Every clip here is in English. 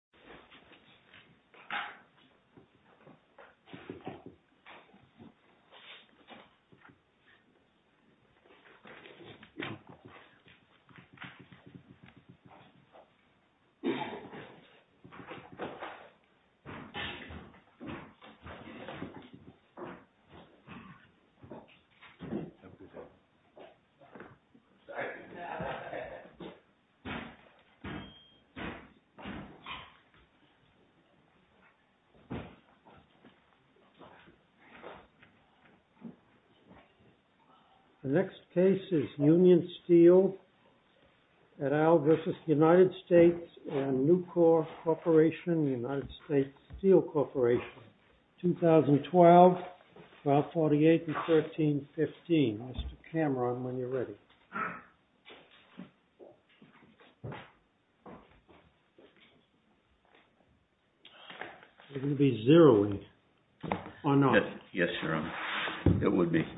U.S. Embassy in the Philippines United States Embassy in the Philippines The next case is UNION STEEL et al. v. United States and Nucor Corporation, United States Steel Corporation, 2012, file 48 and 1315. The next case is UNION STEEL et al. v. United States and Nucor Corporation, 2012, file 48 and 1315.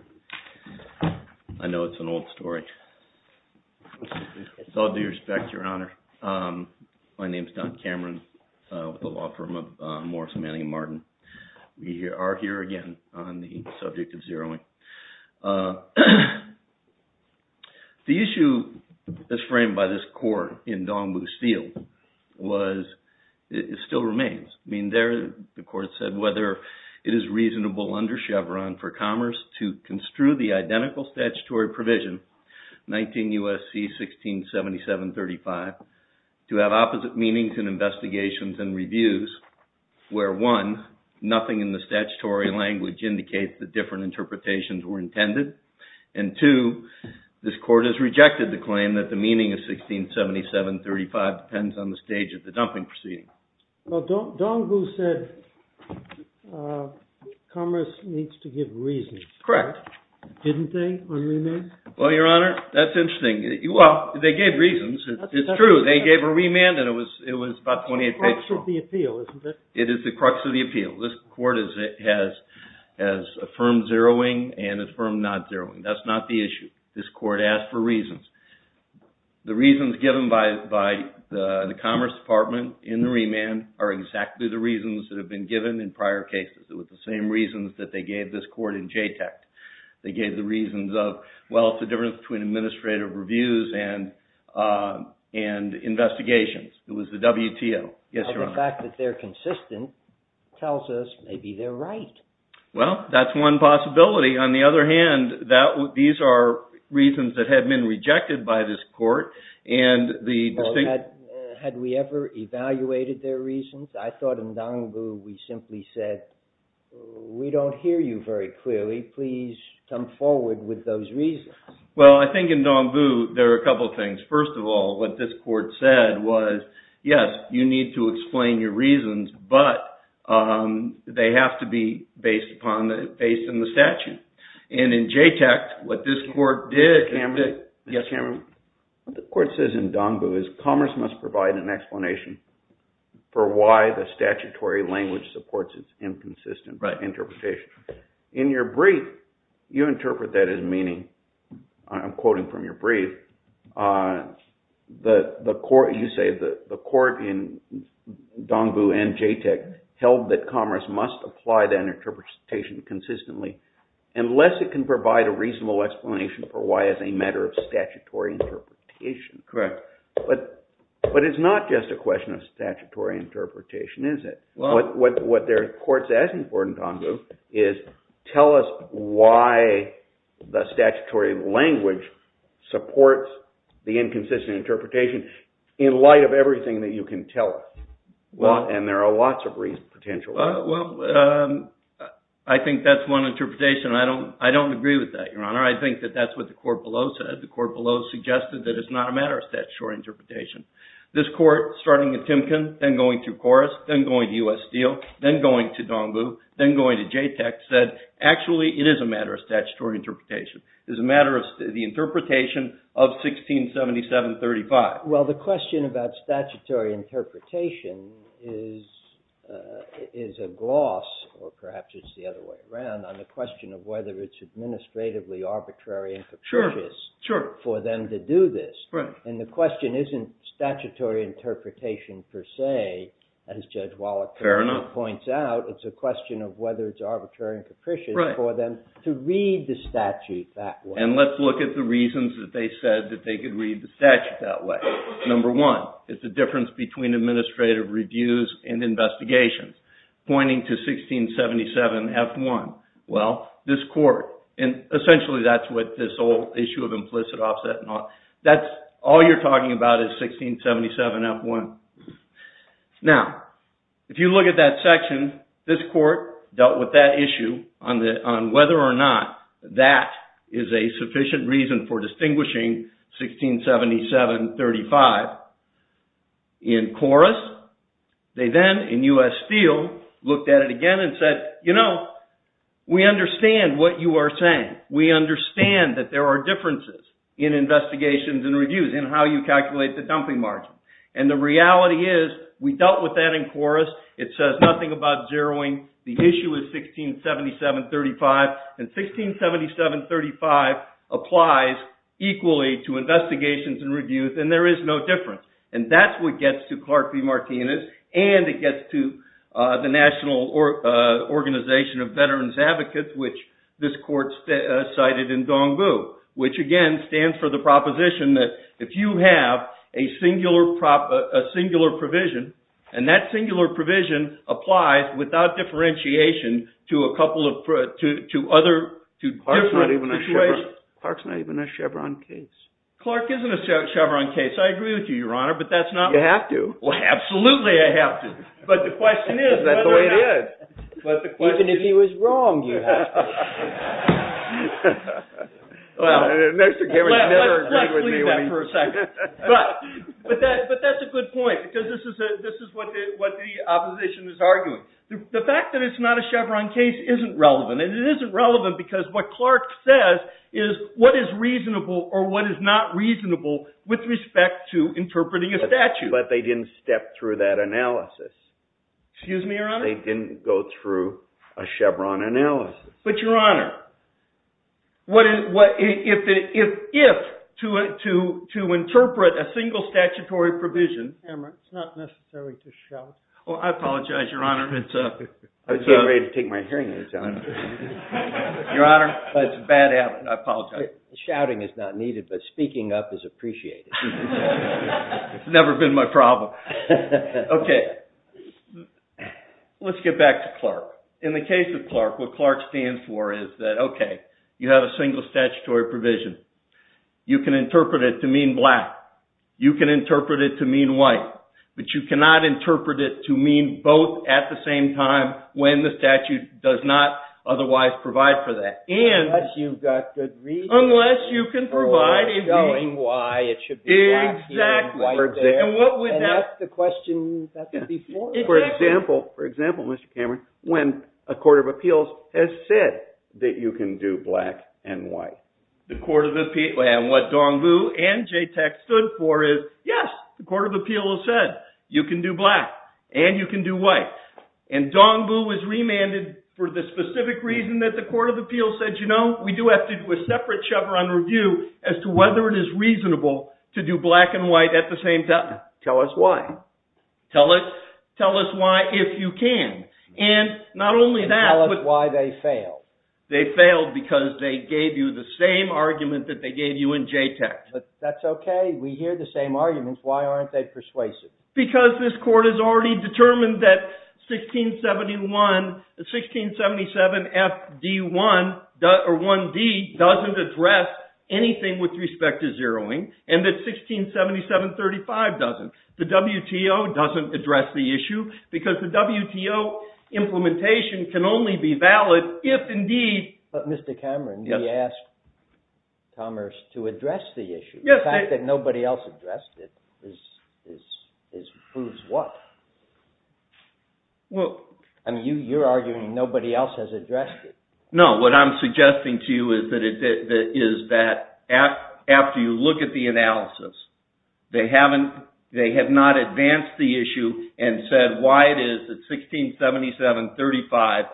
The issue that's framed by this court in Dongbu Steel still remains. I mean, there the court said whether it is reasonable under Chevron for Commerce to construe the identical statutory provision, 19 U.S.C. 167735, to have opposite meanings in investigations and reviews, where one, nothing in the statutory language indicates that different interpretations were intended, and two, this court has rejected the claim that the meaning of 167735 depends on the stage of the dumping proceeding. Well, Dongbu said Commerce needs to give reasons. Correct. Didn't they on remand? Well, Your Honor, that's interesting. Well, they gave reasons. It's true. They gave a remand and it was about 28 pages long. It is the crux of the appeal, isn't it? It is the crux of the appeal. This court has affirmed zeroing and affirmed not zeroing. That's not the issue. This court asked for reasons. The reasons given by the Commerce Department in the remand are exactly the reasons that have been given in prior cases. It was the same reasons that they gave this court in JTEC. They gave the reasons of, well, it's the difference between administrative reviews and investigations. It was the WTO. Yes, Your Honor. Well, the fact that they're consistent tells us maybe they're right. Well, that's one possibility. On the other hand, these are reasons that have been rejected by this court. Well, had we ever evaluated their reasons? I thought in Dongbu, we simply said, we don't hear you very clearly. Please come forward with those reasons. Well, I think in Dongbu, there are a couple of things. First of all, what this court said was, yes, you need to explain your reasons, but they have to be based in the statute. And in JTEC, what this court did... Yes, Your Honor. What the court says in Dongbu is commerce must provide an explanation for why the statutory language supports its inconsistent interpretation. In your brief, you interpret that as meaning, I'm quoting from your brief, you say the court in Dongbu and JTEC held that commerce must apply that interpretation consistently unless it can provide a reasonable explanation for why as a matter of statute. Correct. But it's not just a question of statutory interpretation, is it? What their court says in Dongbu is, tell us why the statutory language supports the inconsistent interpretation in light of everything that you can tell us. And there are lots of reasons potentially. Well, I think that's one interpretation. I don't agree with that, Your Honor. I think that that's what the court below said. The court below suggested that it's not a matter of statutory interpretation. This court, starting at Timken, then going through Corus, then going to U.S. Steel, then going to Dongbu, then going to JTEC, said, actually, it is a matter of statutory interpretation. It's a matter of the interpretation of 1677-35. Well, the question about statutory interpretation is a gloss, or perhaps it's the other way around, on the question of whether it's administratively arbitrary and capricious for them to do this. And the question isn't statutory interpretation per se, as Judge Wallach points out. It's a question of whether it's arbitrary and capricious for them to read the statute that way. And let's look at the reasons that they said that they could read the statute that way. Number one, it's the difference between administrative reviews and investigations, pointing to 1677-F1. Well, this court, and essentially that's what this whole issue of implicit offset and all, that's all you're talking about is 1677-F1. Now, if you look at that section, this court dealt with that issue on whether or not that is a sufficient reason for distinguishing 1677-35. In Corus, they then, in U.S. Steel, looked at it again and said, you know, we understand what you are saying. We understand that there are differences in investigations and reviews, in how you calculate the dumping margin. And the reality is, we dealt with that in Corus. It says nothing about zeroing. The issue is 1677-35. And 1677-35 applies equally to investigations and reviews, and there is no difference. And that's what gets to Clark v. Martinez, and it gets to the National Organization of Veterans Advocates, which this court cited in Dong Vu. Which, again, stands for the proposition that if you have a singular provision, and that singular provision applies without differentiation to a couple of – to other – to different situations. Clark's not even a Chevron case. Clark isn't a Chevron case. I agree with you, Your Honor, but that's not – You have to. Well, absolutely I have to. But the question is – Is that the way it is? Even if he was wrong, you have to. Well, let's leave that for a second. But that's a good point, because this is what the opposition is arguing. The fact that it's not a Chevron case isn't relevant, and it isn't relevant because what Clark says is what is reasonable or what is not reasonable with respect to interpreting a statute. But they didn't step through that analysis. Excuse me, Your Honor? They didn't go through a Chevron analysis. But, Your Honor, if to interpret a single statutory provision – It's not necessary to shout. Oh, I apologize, Your Honor. I was getting ready to take my hearing aids on. Your Honor, that's bad habit. I apologize. Shouting is not needed, but speaking up is appreciated. It's never been my problem. Okay. Let's get back to Clark. In the case of Clark, what Clark stands for is that, okay, you have a single statutory provision. You can interpret it to mean black. You can interpret it to mean white. But you cannot interpret it to mean both at the same time when the statute does not otherwise provide for that. Unless you've got good reasoning for why it should be black here and white there. And that's the question that's before us. For example, Mr. Cameron, when a court of appeals has said that you can do black and white. And what Dong Vu and JTAC stood for is, yes, the court of appeals said you can do black and you can do white. And Dong Vu was remanded for the specific reason that the court of appeals said, you know, we do have to do a separate cover on review as to whether it is reasonable to do black and white at the same time. Tell us why. Tell us why if you can. And not only that. And tell us why they failed. They failed because they gave you the same argument that they gave you in JTAC. That's okay. We hear the same arguments. Why aren't they persuasive? Because this court has already determined that 1677 FD1 or 1D doesn't address anything with respect to zeroing. And that 1677 35 doesn't. The WTO doesn't address the issue because the WTO implementation can only be valid if indeed. But Mr. Cameron, you asked Commerce to address the issue. The fact that nobody else addressed it proves what? I mean, you're arguing nobody else has addressed it. No, what I'm suggesting to you is that after you look at the analysis, they have not advanced the issue and said why it is that 1677 35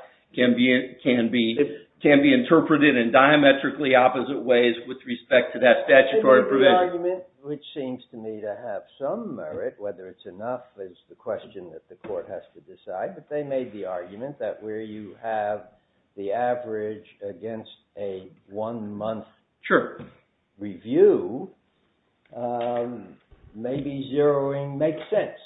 can be interpreted in diametrically opposite ways with respect to that statutory provision. Which seems to me to have some merit, whether it's enough is the question that the court has to decide. But they made the argument that where you have the average against a one month. Sure. Review. Maybe zeroing makes sense.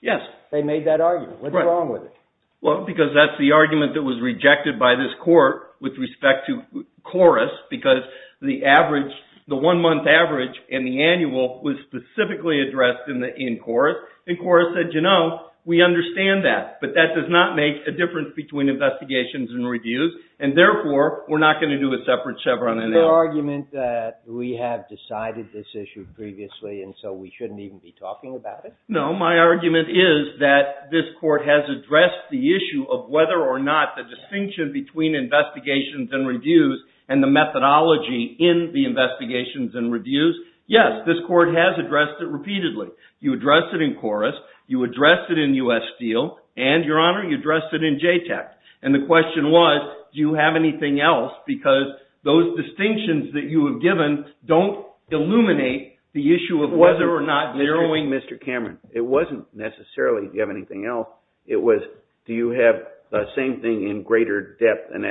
Yes, they made that argument. What's wrong with it? Well, because that's the argument that was rejected by this court with respect to chorus, because the average the one month average in the annual was specifically addressed in the in chorus. And chorus said, you know, we understand that. But that does not make a difference between investigations and reviews. And therefore, we're not going to do a separate Chevron argument that we have decided this issue previously. And so we shouldn't even be talking about it. No. My argument is that this court has addressed the issue of whether or not the distinction between investigations and reviews and the methodology in the investigations and reviews. Yes, this court has addressed it repeatedly. You address it in chorus. You address it in U.S. Steel and your honor, you address it in JTAC. And the question was, do you have anything else? Because those distinctions that you have given don't illuminate the issue of whether or not zeroing. Mr. Cameron, it wasn't necessarily you have anything else. It was do you have the same thing in greater depth and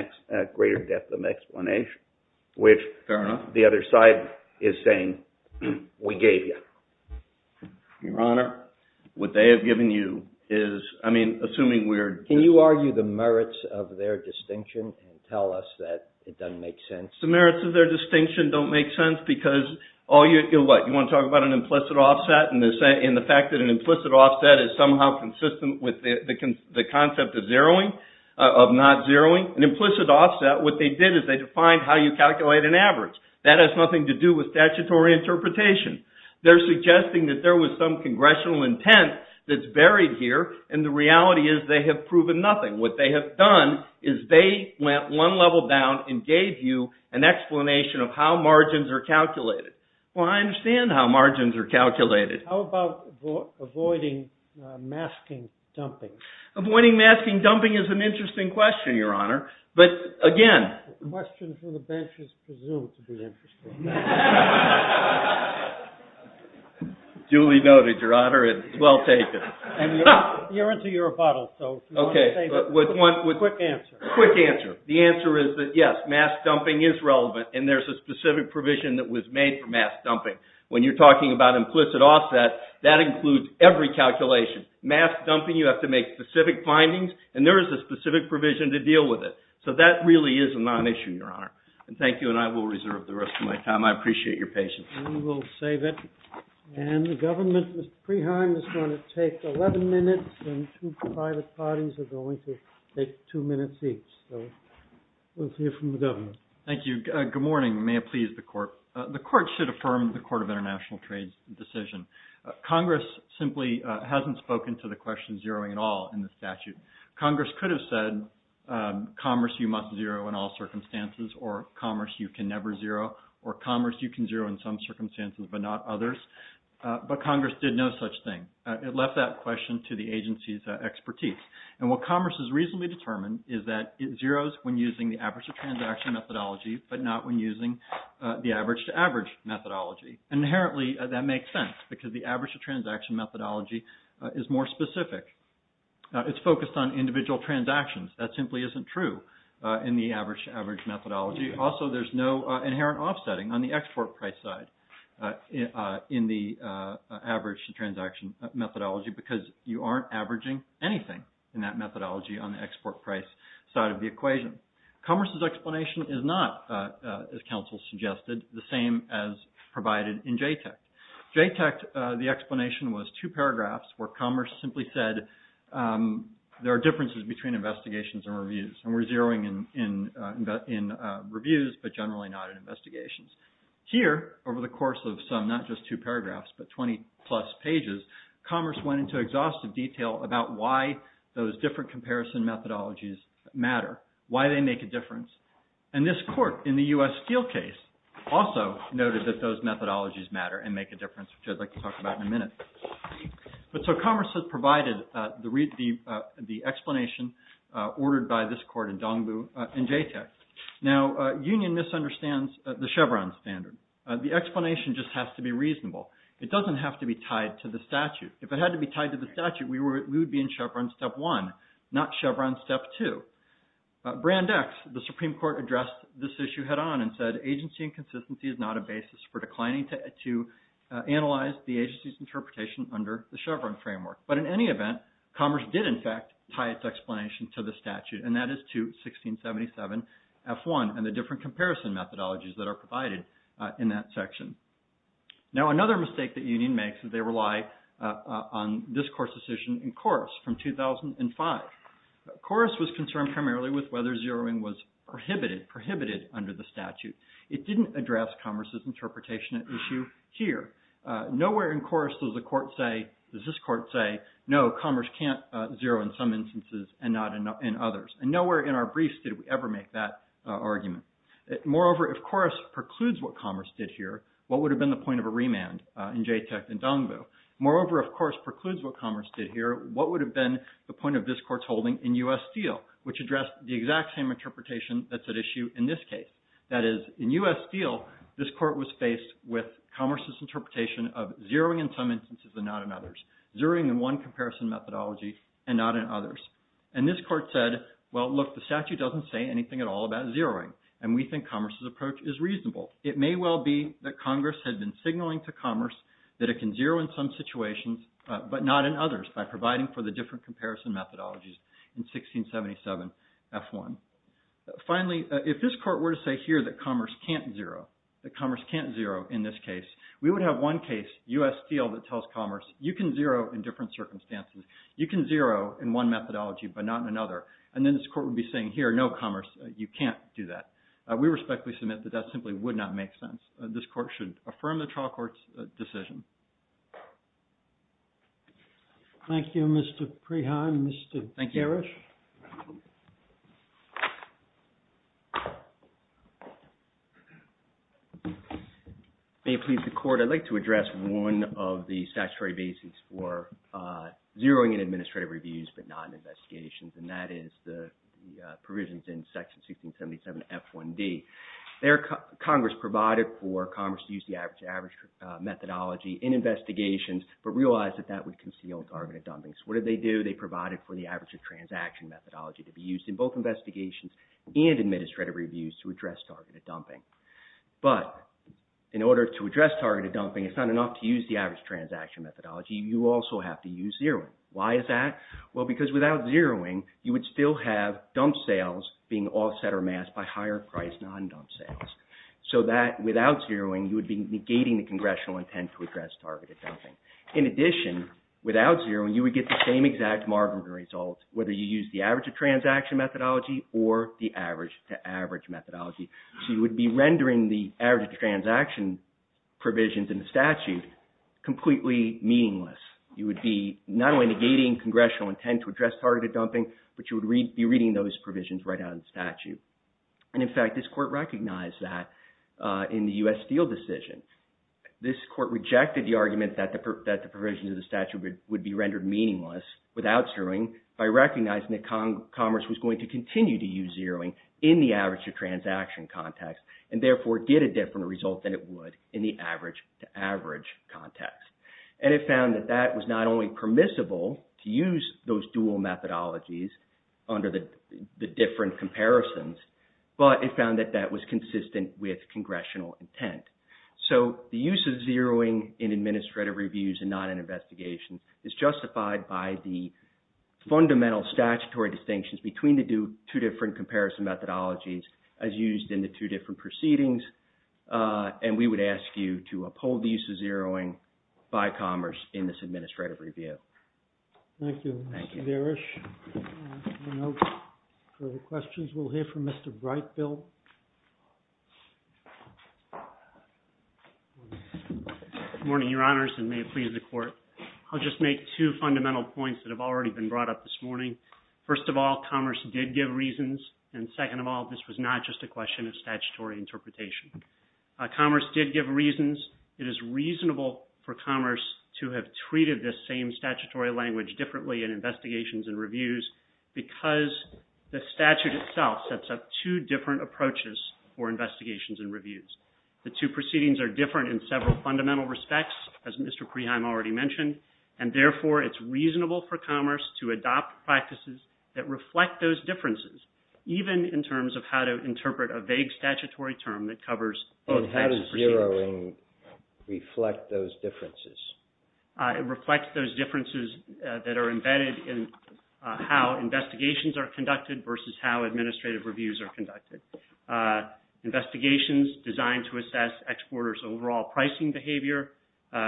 greater depth of explanation, which the other side is saying we gave you your honor, what they have given you is, I mean, assuming we're. Can you argue the merits of their distinction and tell us that it doesn't make sense? The merits of their distinction don't make sense because all you want to talk about an implicit offset. And they say in the fact that an implicit offset is somehow consistent with the concept of zeroing of not zeroing an implicit offset. What they did is they defined how you calculate an average that has nothing to do with statutory interpretation. They're suggesting that there was some congressional intent that's buried here. And the reality is they have proven nothing. What they have done is they went one level down and gave you an explanation of how margins are calculated. Well, I understand how margins are calculated. How about avoiding masking dumping? Avoiding masking dumping is an interesting question, your honor. But, again. The question from the bench is presumed to be interesting. Julie noted, your honor. It's well taken. You're into your rebuttal. Okay. Quick answer. Quick answer. The answer is that, yes, mask dumping is relevant. And there's a specific provision that was made for mask dumping. When you're talking about implicit offset, that includes every calculation. Mask dumping, you have to make specific findings. And there is a specific provision to deal with it. So that really is a non-issue, your honor. And thank you. And I will reserve the rest of my time. I appreciate your patience. And we'll save it. And the government, Mr. Preheim, is going to take 11 minutes. And two private parties are going to take two minutes each. So we'll hear from the government. Thank you. Good morning. May it please the court. The court should affirm the Court of International Trade's decision. Congress simply hasn't spoken to the question of zeroing at all in the statute. Congress could have said, commerce, you must zero in all circumstances, or commerce, you can never zero, or commerce, you can zero in some circumstances, but not others. But Congress did no such thing. It left that question to the agency's expertise. And what commerce has reasonably determined is that it zeroes when using the average-to-transaction methodology but not when using the average-to-average methodology. And inherently, that makes sense because the average-to-transaction methodology is more specific. It's focused on individual transactions. That simply isn't true in the average-to-average methodology. Also, there's no inherent offsetting on the export price side in the average-to-transaction methodology because you aren't averaging anything in that methodology on the export price side of the equation. Commerce's explanation is not, as counsel suggested, the same as provided in JTAC. JTAC, the explanation was two paragraphs where commerce simply said, there are differences between investigations and reviews, and we're zeroing in reviews but generally not in investigations. Here, over the course of some, not just two paragraphs, but 20-plus pages, commerce went into exhaustive detail about why those different comparison methodologies matter, why they make a difference. And this court in the U.S. Steele case also noted that those methodologies matter and make a difference, which I'd like to talk about in a minute. But so commerce has provided the explanation ordered by this court in Dongbu and JTAC. Now, Union misunderstands the Chevron standard. The explanation just has to be reasonable. It doesn't have to be tied to the statute. If it had to be tied to the statute, we would be in Chevron step one, not Chevron step two. Brand X, the Supreme Court addressed this issue head-on and said, agency and consistency is not a basis for declining to analyze the agency's interpretation under the Chevron framework. But in any event, commerce did in fact tie its explanation to the statute, and that is to 1677F1 and the different comparison methodologies that are provided in that section. Now, another mistake that Union makes is they rely on this court's decision in Corus from 2005. Corus was concerned primarily with whether zeroing was prohibited under the statute. It didn't address commerce's interpretation issue here. Nowhere in Corus does this court say, no, commerce can't zero in some instances and not in others. And nowhere in our briefs did we ever make that argument. Moreover, if Corus precludes what commerce did here, what would have been the point of a remand in JTAC and Dongbu? Moreover, if Corus precludes what commerce did here, what would have been the point of this court's holding in U.S. Steel, which addressed the exact same interpretation that's at issue in this case? That is, in U.S. Steel, this court was faced with commerce's interpretation of zeroing in some instances and not in others. Zeroing in one comparison methodology and not in others. And this court said, well, look, the statute doesn't say anything at all about zeroing, and we think commerce's approach is reasonable. It may well be that Congress had been signaling to commerce that it can zero in some situations, but not in others by providing for the different comparison methodologies in 1677 F1. Finally, if this court were to say here that commerce can't zero, that commerce can't zero in this case, we would have one case, U.S. Steel, that tells commerce, you can zero in different circumstances. You can zero in one methodology, but not in another. And then this court would be saying, here, no, commerce, you can't do that. We respectfully submit that that simply would not make sense. This court should affirm the trial court's decision. Thank you, Mr. Preheim. Mr. Garish? Thank you. May it please the Court, I'd like to address one of the statutory basics for zeroing in administrative reviews but not in investigations, and that is the provisions in Section 1677 F1D. Congress provided for commerce to use the average-to-average methodology in investigations, but realized that that would conceal targeted dumping. So what did they do? They provided for the average-to-transaction methodology to be used in both investigations and administrative reviews to address targeted dumping. But in order to address targeted dumping, it's not enough to use the average-to-transaction methodology. You also have to use zeroing. Why is that? Well, because without zeroing, you would still have dump sales being offset or amassed by higher-priced non-dump sales. So that, without zeroing, you would be negating the congressional intent to address targeted dumping. In addition, without zeroing, you would get the same exact marginal result, whether you use the average-to-transaction methodology or the average-to-average methodology. So you would be rendering the average-to-transaction provisions in the statute completely meaningless. You would be not only negating congressional intent to address targeted dumping, but you would be reading those provisions right out of the statute. And, in fact, this court recognized that in the U.S. Steel decision. This court rejected the argument that the provisions of the statute would be rendered meaningless without zeroing by recognizing that Commerce was going to continue to use zeroing in the average-to-transaction context and, therefore, get a different result than it would in the average-to-average context. And it found that that was not only permissible to use those dual methodologies under the different comparisons, but it found that that was consistent with congressional intent. So the use of zeroing in administrative reviews and not in investigations is justified by the fundamental statutory distinctions between the two different comparison methodologies as used in the two different proceedings. And we would ask you to uphold the use of zeroing by Commerce in this administrative review. Thank you, Mr. Darish. For questions, we'll hear from Mr. Brightfield. Good morning, Your Honors, and may it please the Court. I'll just make two fundamental points that have already been brought up this morning. First of all, Commerce did give reasons. And second of all, this was not just a question of statutory interpretation. Commerce did give reasons. It is reasonable for Commerce to have treated this same statutory language differently in investigations and reviews because the statute itself sets up two different approaches for investigations and reviews. The two proceedings are different in several fundamental respects, as Mr. Creheim already mentioned, and therefore it's reasonable for Commerce to adopt practices that reflect those differences, even in terms of how to interpret a vague statutory term that covers both types of proceedings. How does zeroing reflect those differences? It reflects those differences that are embedded in how investigations are conducted versus how administrative reviews are conducted. Investigations designed to assess exporters' overall pricing behavior,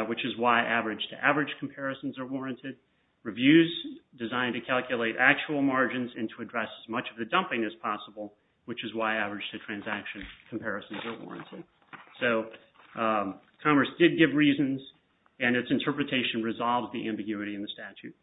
which is why average-to-average comparisons are warranted. Reviews designed to calculate actual margins and to address as much of the dumping as possible, which is why average-to-transaction comparisons are warranted. So Commerce did give reasons, and its interpretation resolves the ambiguity in the statute.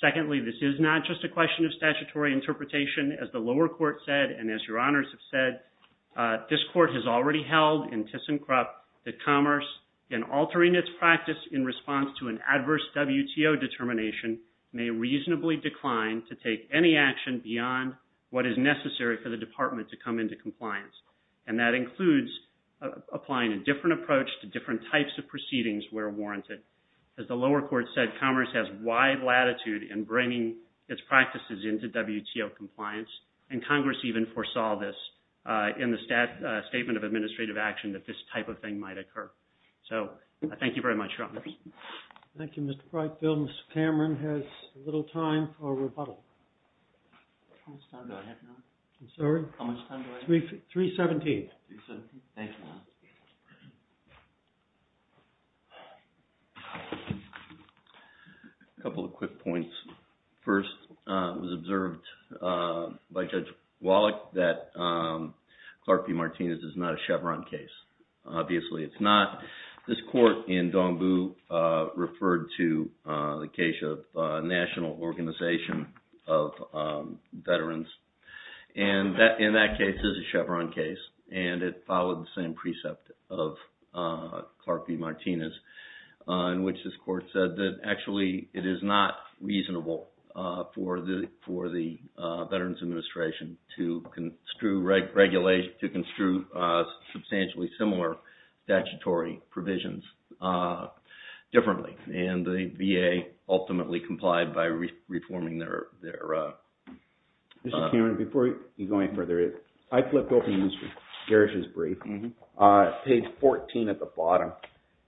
Secondly, this is not just a question of statutory interpretation. As the lower court said, and as your honors have said, this court has already held in ThyssenKrupp that Commerce, in altering its practice in response to an adverse WTO determination, may reasonably decline to take any action beyond what is necessary for the department to come into compliance. And that includes applying a different approach to different types of proceedings where warranted. As the lower court said, Commerce has wide latitude in bringing its practices into WTO compliance, and Congress even foresaw this in the Statement of Administrative Action that this type of thing might occur. So thank you very much, your honors. Thank you, Mr. Brightfield. Mr. Cameron has little time for rebuttal. How much time do I have now? I'm sorry? How much time do I have? 3.17. 3.17. Thank you. A couple of quick points. First, it was observed by Judge Wallach that Clark v. Martinez is not a Chevron case. Obviously, it's not. This court in Dongbu referred to the case of National Organization of Veterans. And in that case, it's a Chevron case, and it followed the same precept of Clark v. Martinez, in which this court said that, actually, it is not reasonable for the Veterans Administration to construe substantially similar statutory provisions differently. And the VA ultimately complied by reforming their... Mr. Cameron, before you go any further, I flipped open Mr. Garish's brief. Page 14 at the bottom,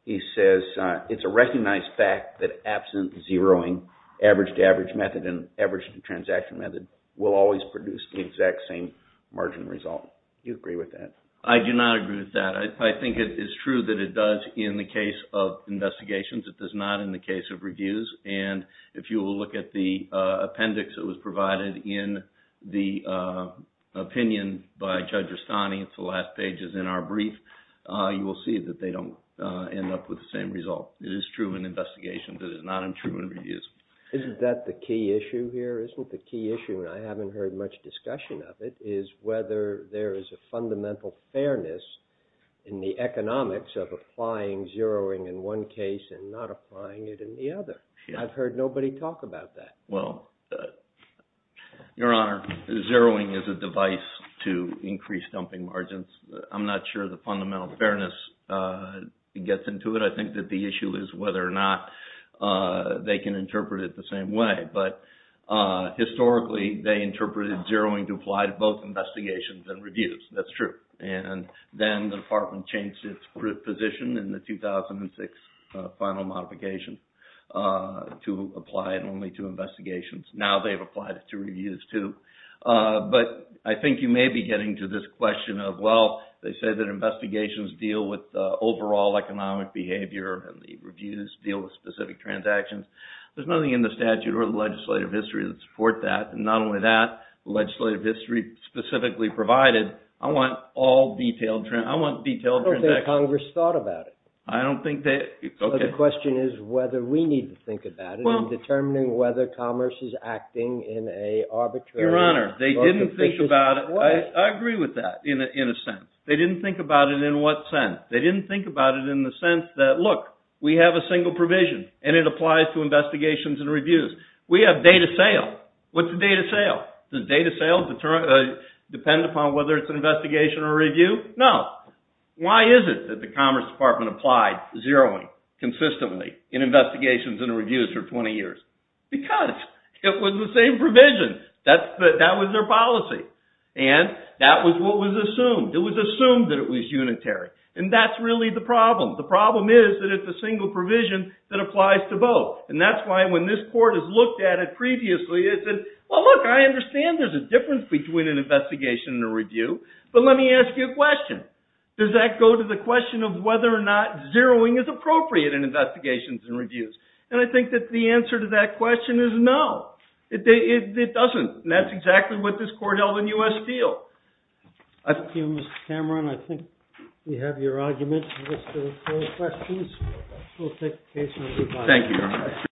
he says, it's a recognized fact that absent zeroing, average-to-average method and average-to-transaction method will always produce the exact same margin result. Do you agree with that? I do not agree with that. I think it is true that it does in the case of investigations. It does not in the case of reviews. And if you will look at the appendix that was provided in the opinion by Judge Rustani, it's the last pages in our brief, you will see that they don't end up with the same result. It is true in investigations. It is not untrue in reviews. Isn't that the key issue here? Isn't the key issue, and I haven't heard much discussion of it, is whether there is a fundamental fairness in the economics of applying zeroing in one case and not applying it in the other. I've heard nobody talk about that. Well, Your Honor, zeroing is a device to increase dumping margins. I'm not sure the fundamental fairness gets into it. I think that the issue is whether or not they can interpret it the same way. But historically, they interpreted zeroing to apply to both investigations and reviews. That's true. And then the department changed its position in the 2006 final modification to apply it only to investigations. Now they've applied it to reviews too. But I think you may be getting to this question of, well, they say that investigations deal with overall economic behavior and the reviews deal with specific transactions. There's nothing in the statute or the legislative history to support that. And not only that, the legislative history specifically provided, I want all detailed transactions. I don't think Congress thought about it. The question is whether we need to think about it in determining whether commerce is acting in an arbitrary way. Your Honor, they didn't think about it. I agree with that in a sense. They didn't think about it in what sense. They didn't think about it in the sense that, look, we have a single provision, and it applies to investigations and reviews. We have data sale. What's a data sale? Does data sale depend upon whether it's an investigation or review? No. Why is it that the Commerce Department applied zeroing consistently in investigations and reviews for 20 years? Because it was the same provision. That was their policy. And that was what was assumed. It was assumed that it was unitary. And that's really the problem. The problem is that it's a single provision that applies to both. And that's why when this court has looked at it previously, it said, well, look, I understand there's a difference between an investigation and a review. But let me ask you a question. Does that go to the question of whether or not zeroing is appropriate in investigations and reviews? And I think that the answer to that question is no. It doesn't. And that's exactly what this court held in U.S. Steel. Thank you, Mr. Cameron. I think we have your argument. If there are no questions, we'll take the case. Thank you, Your Honor.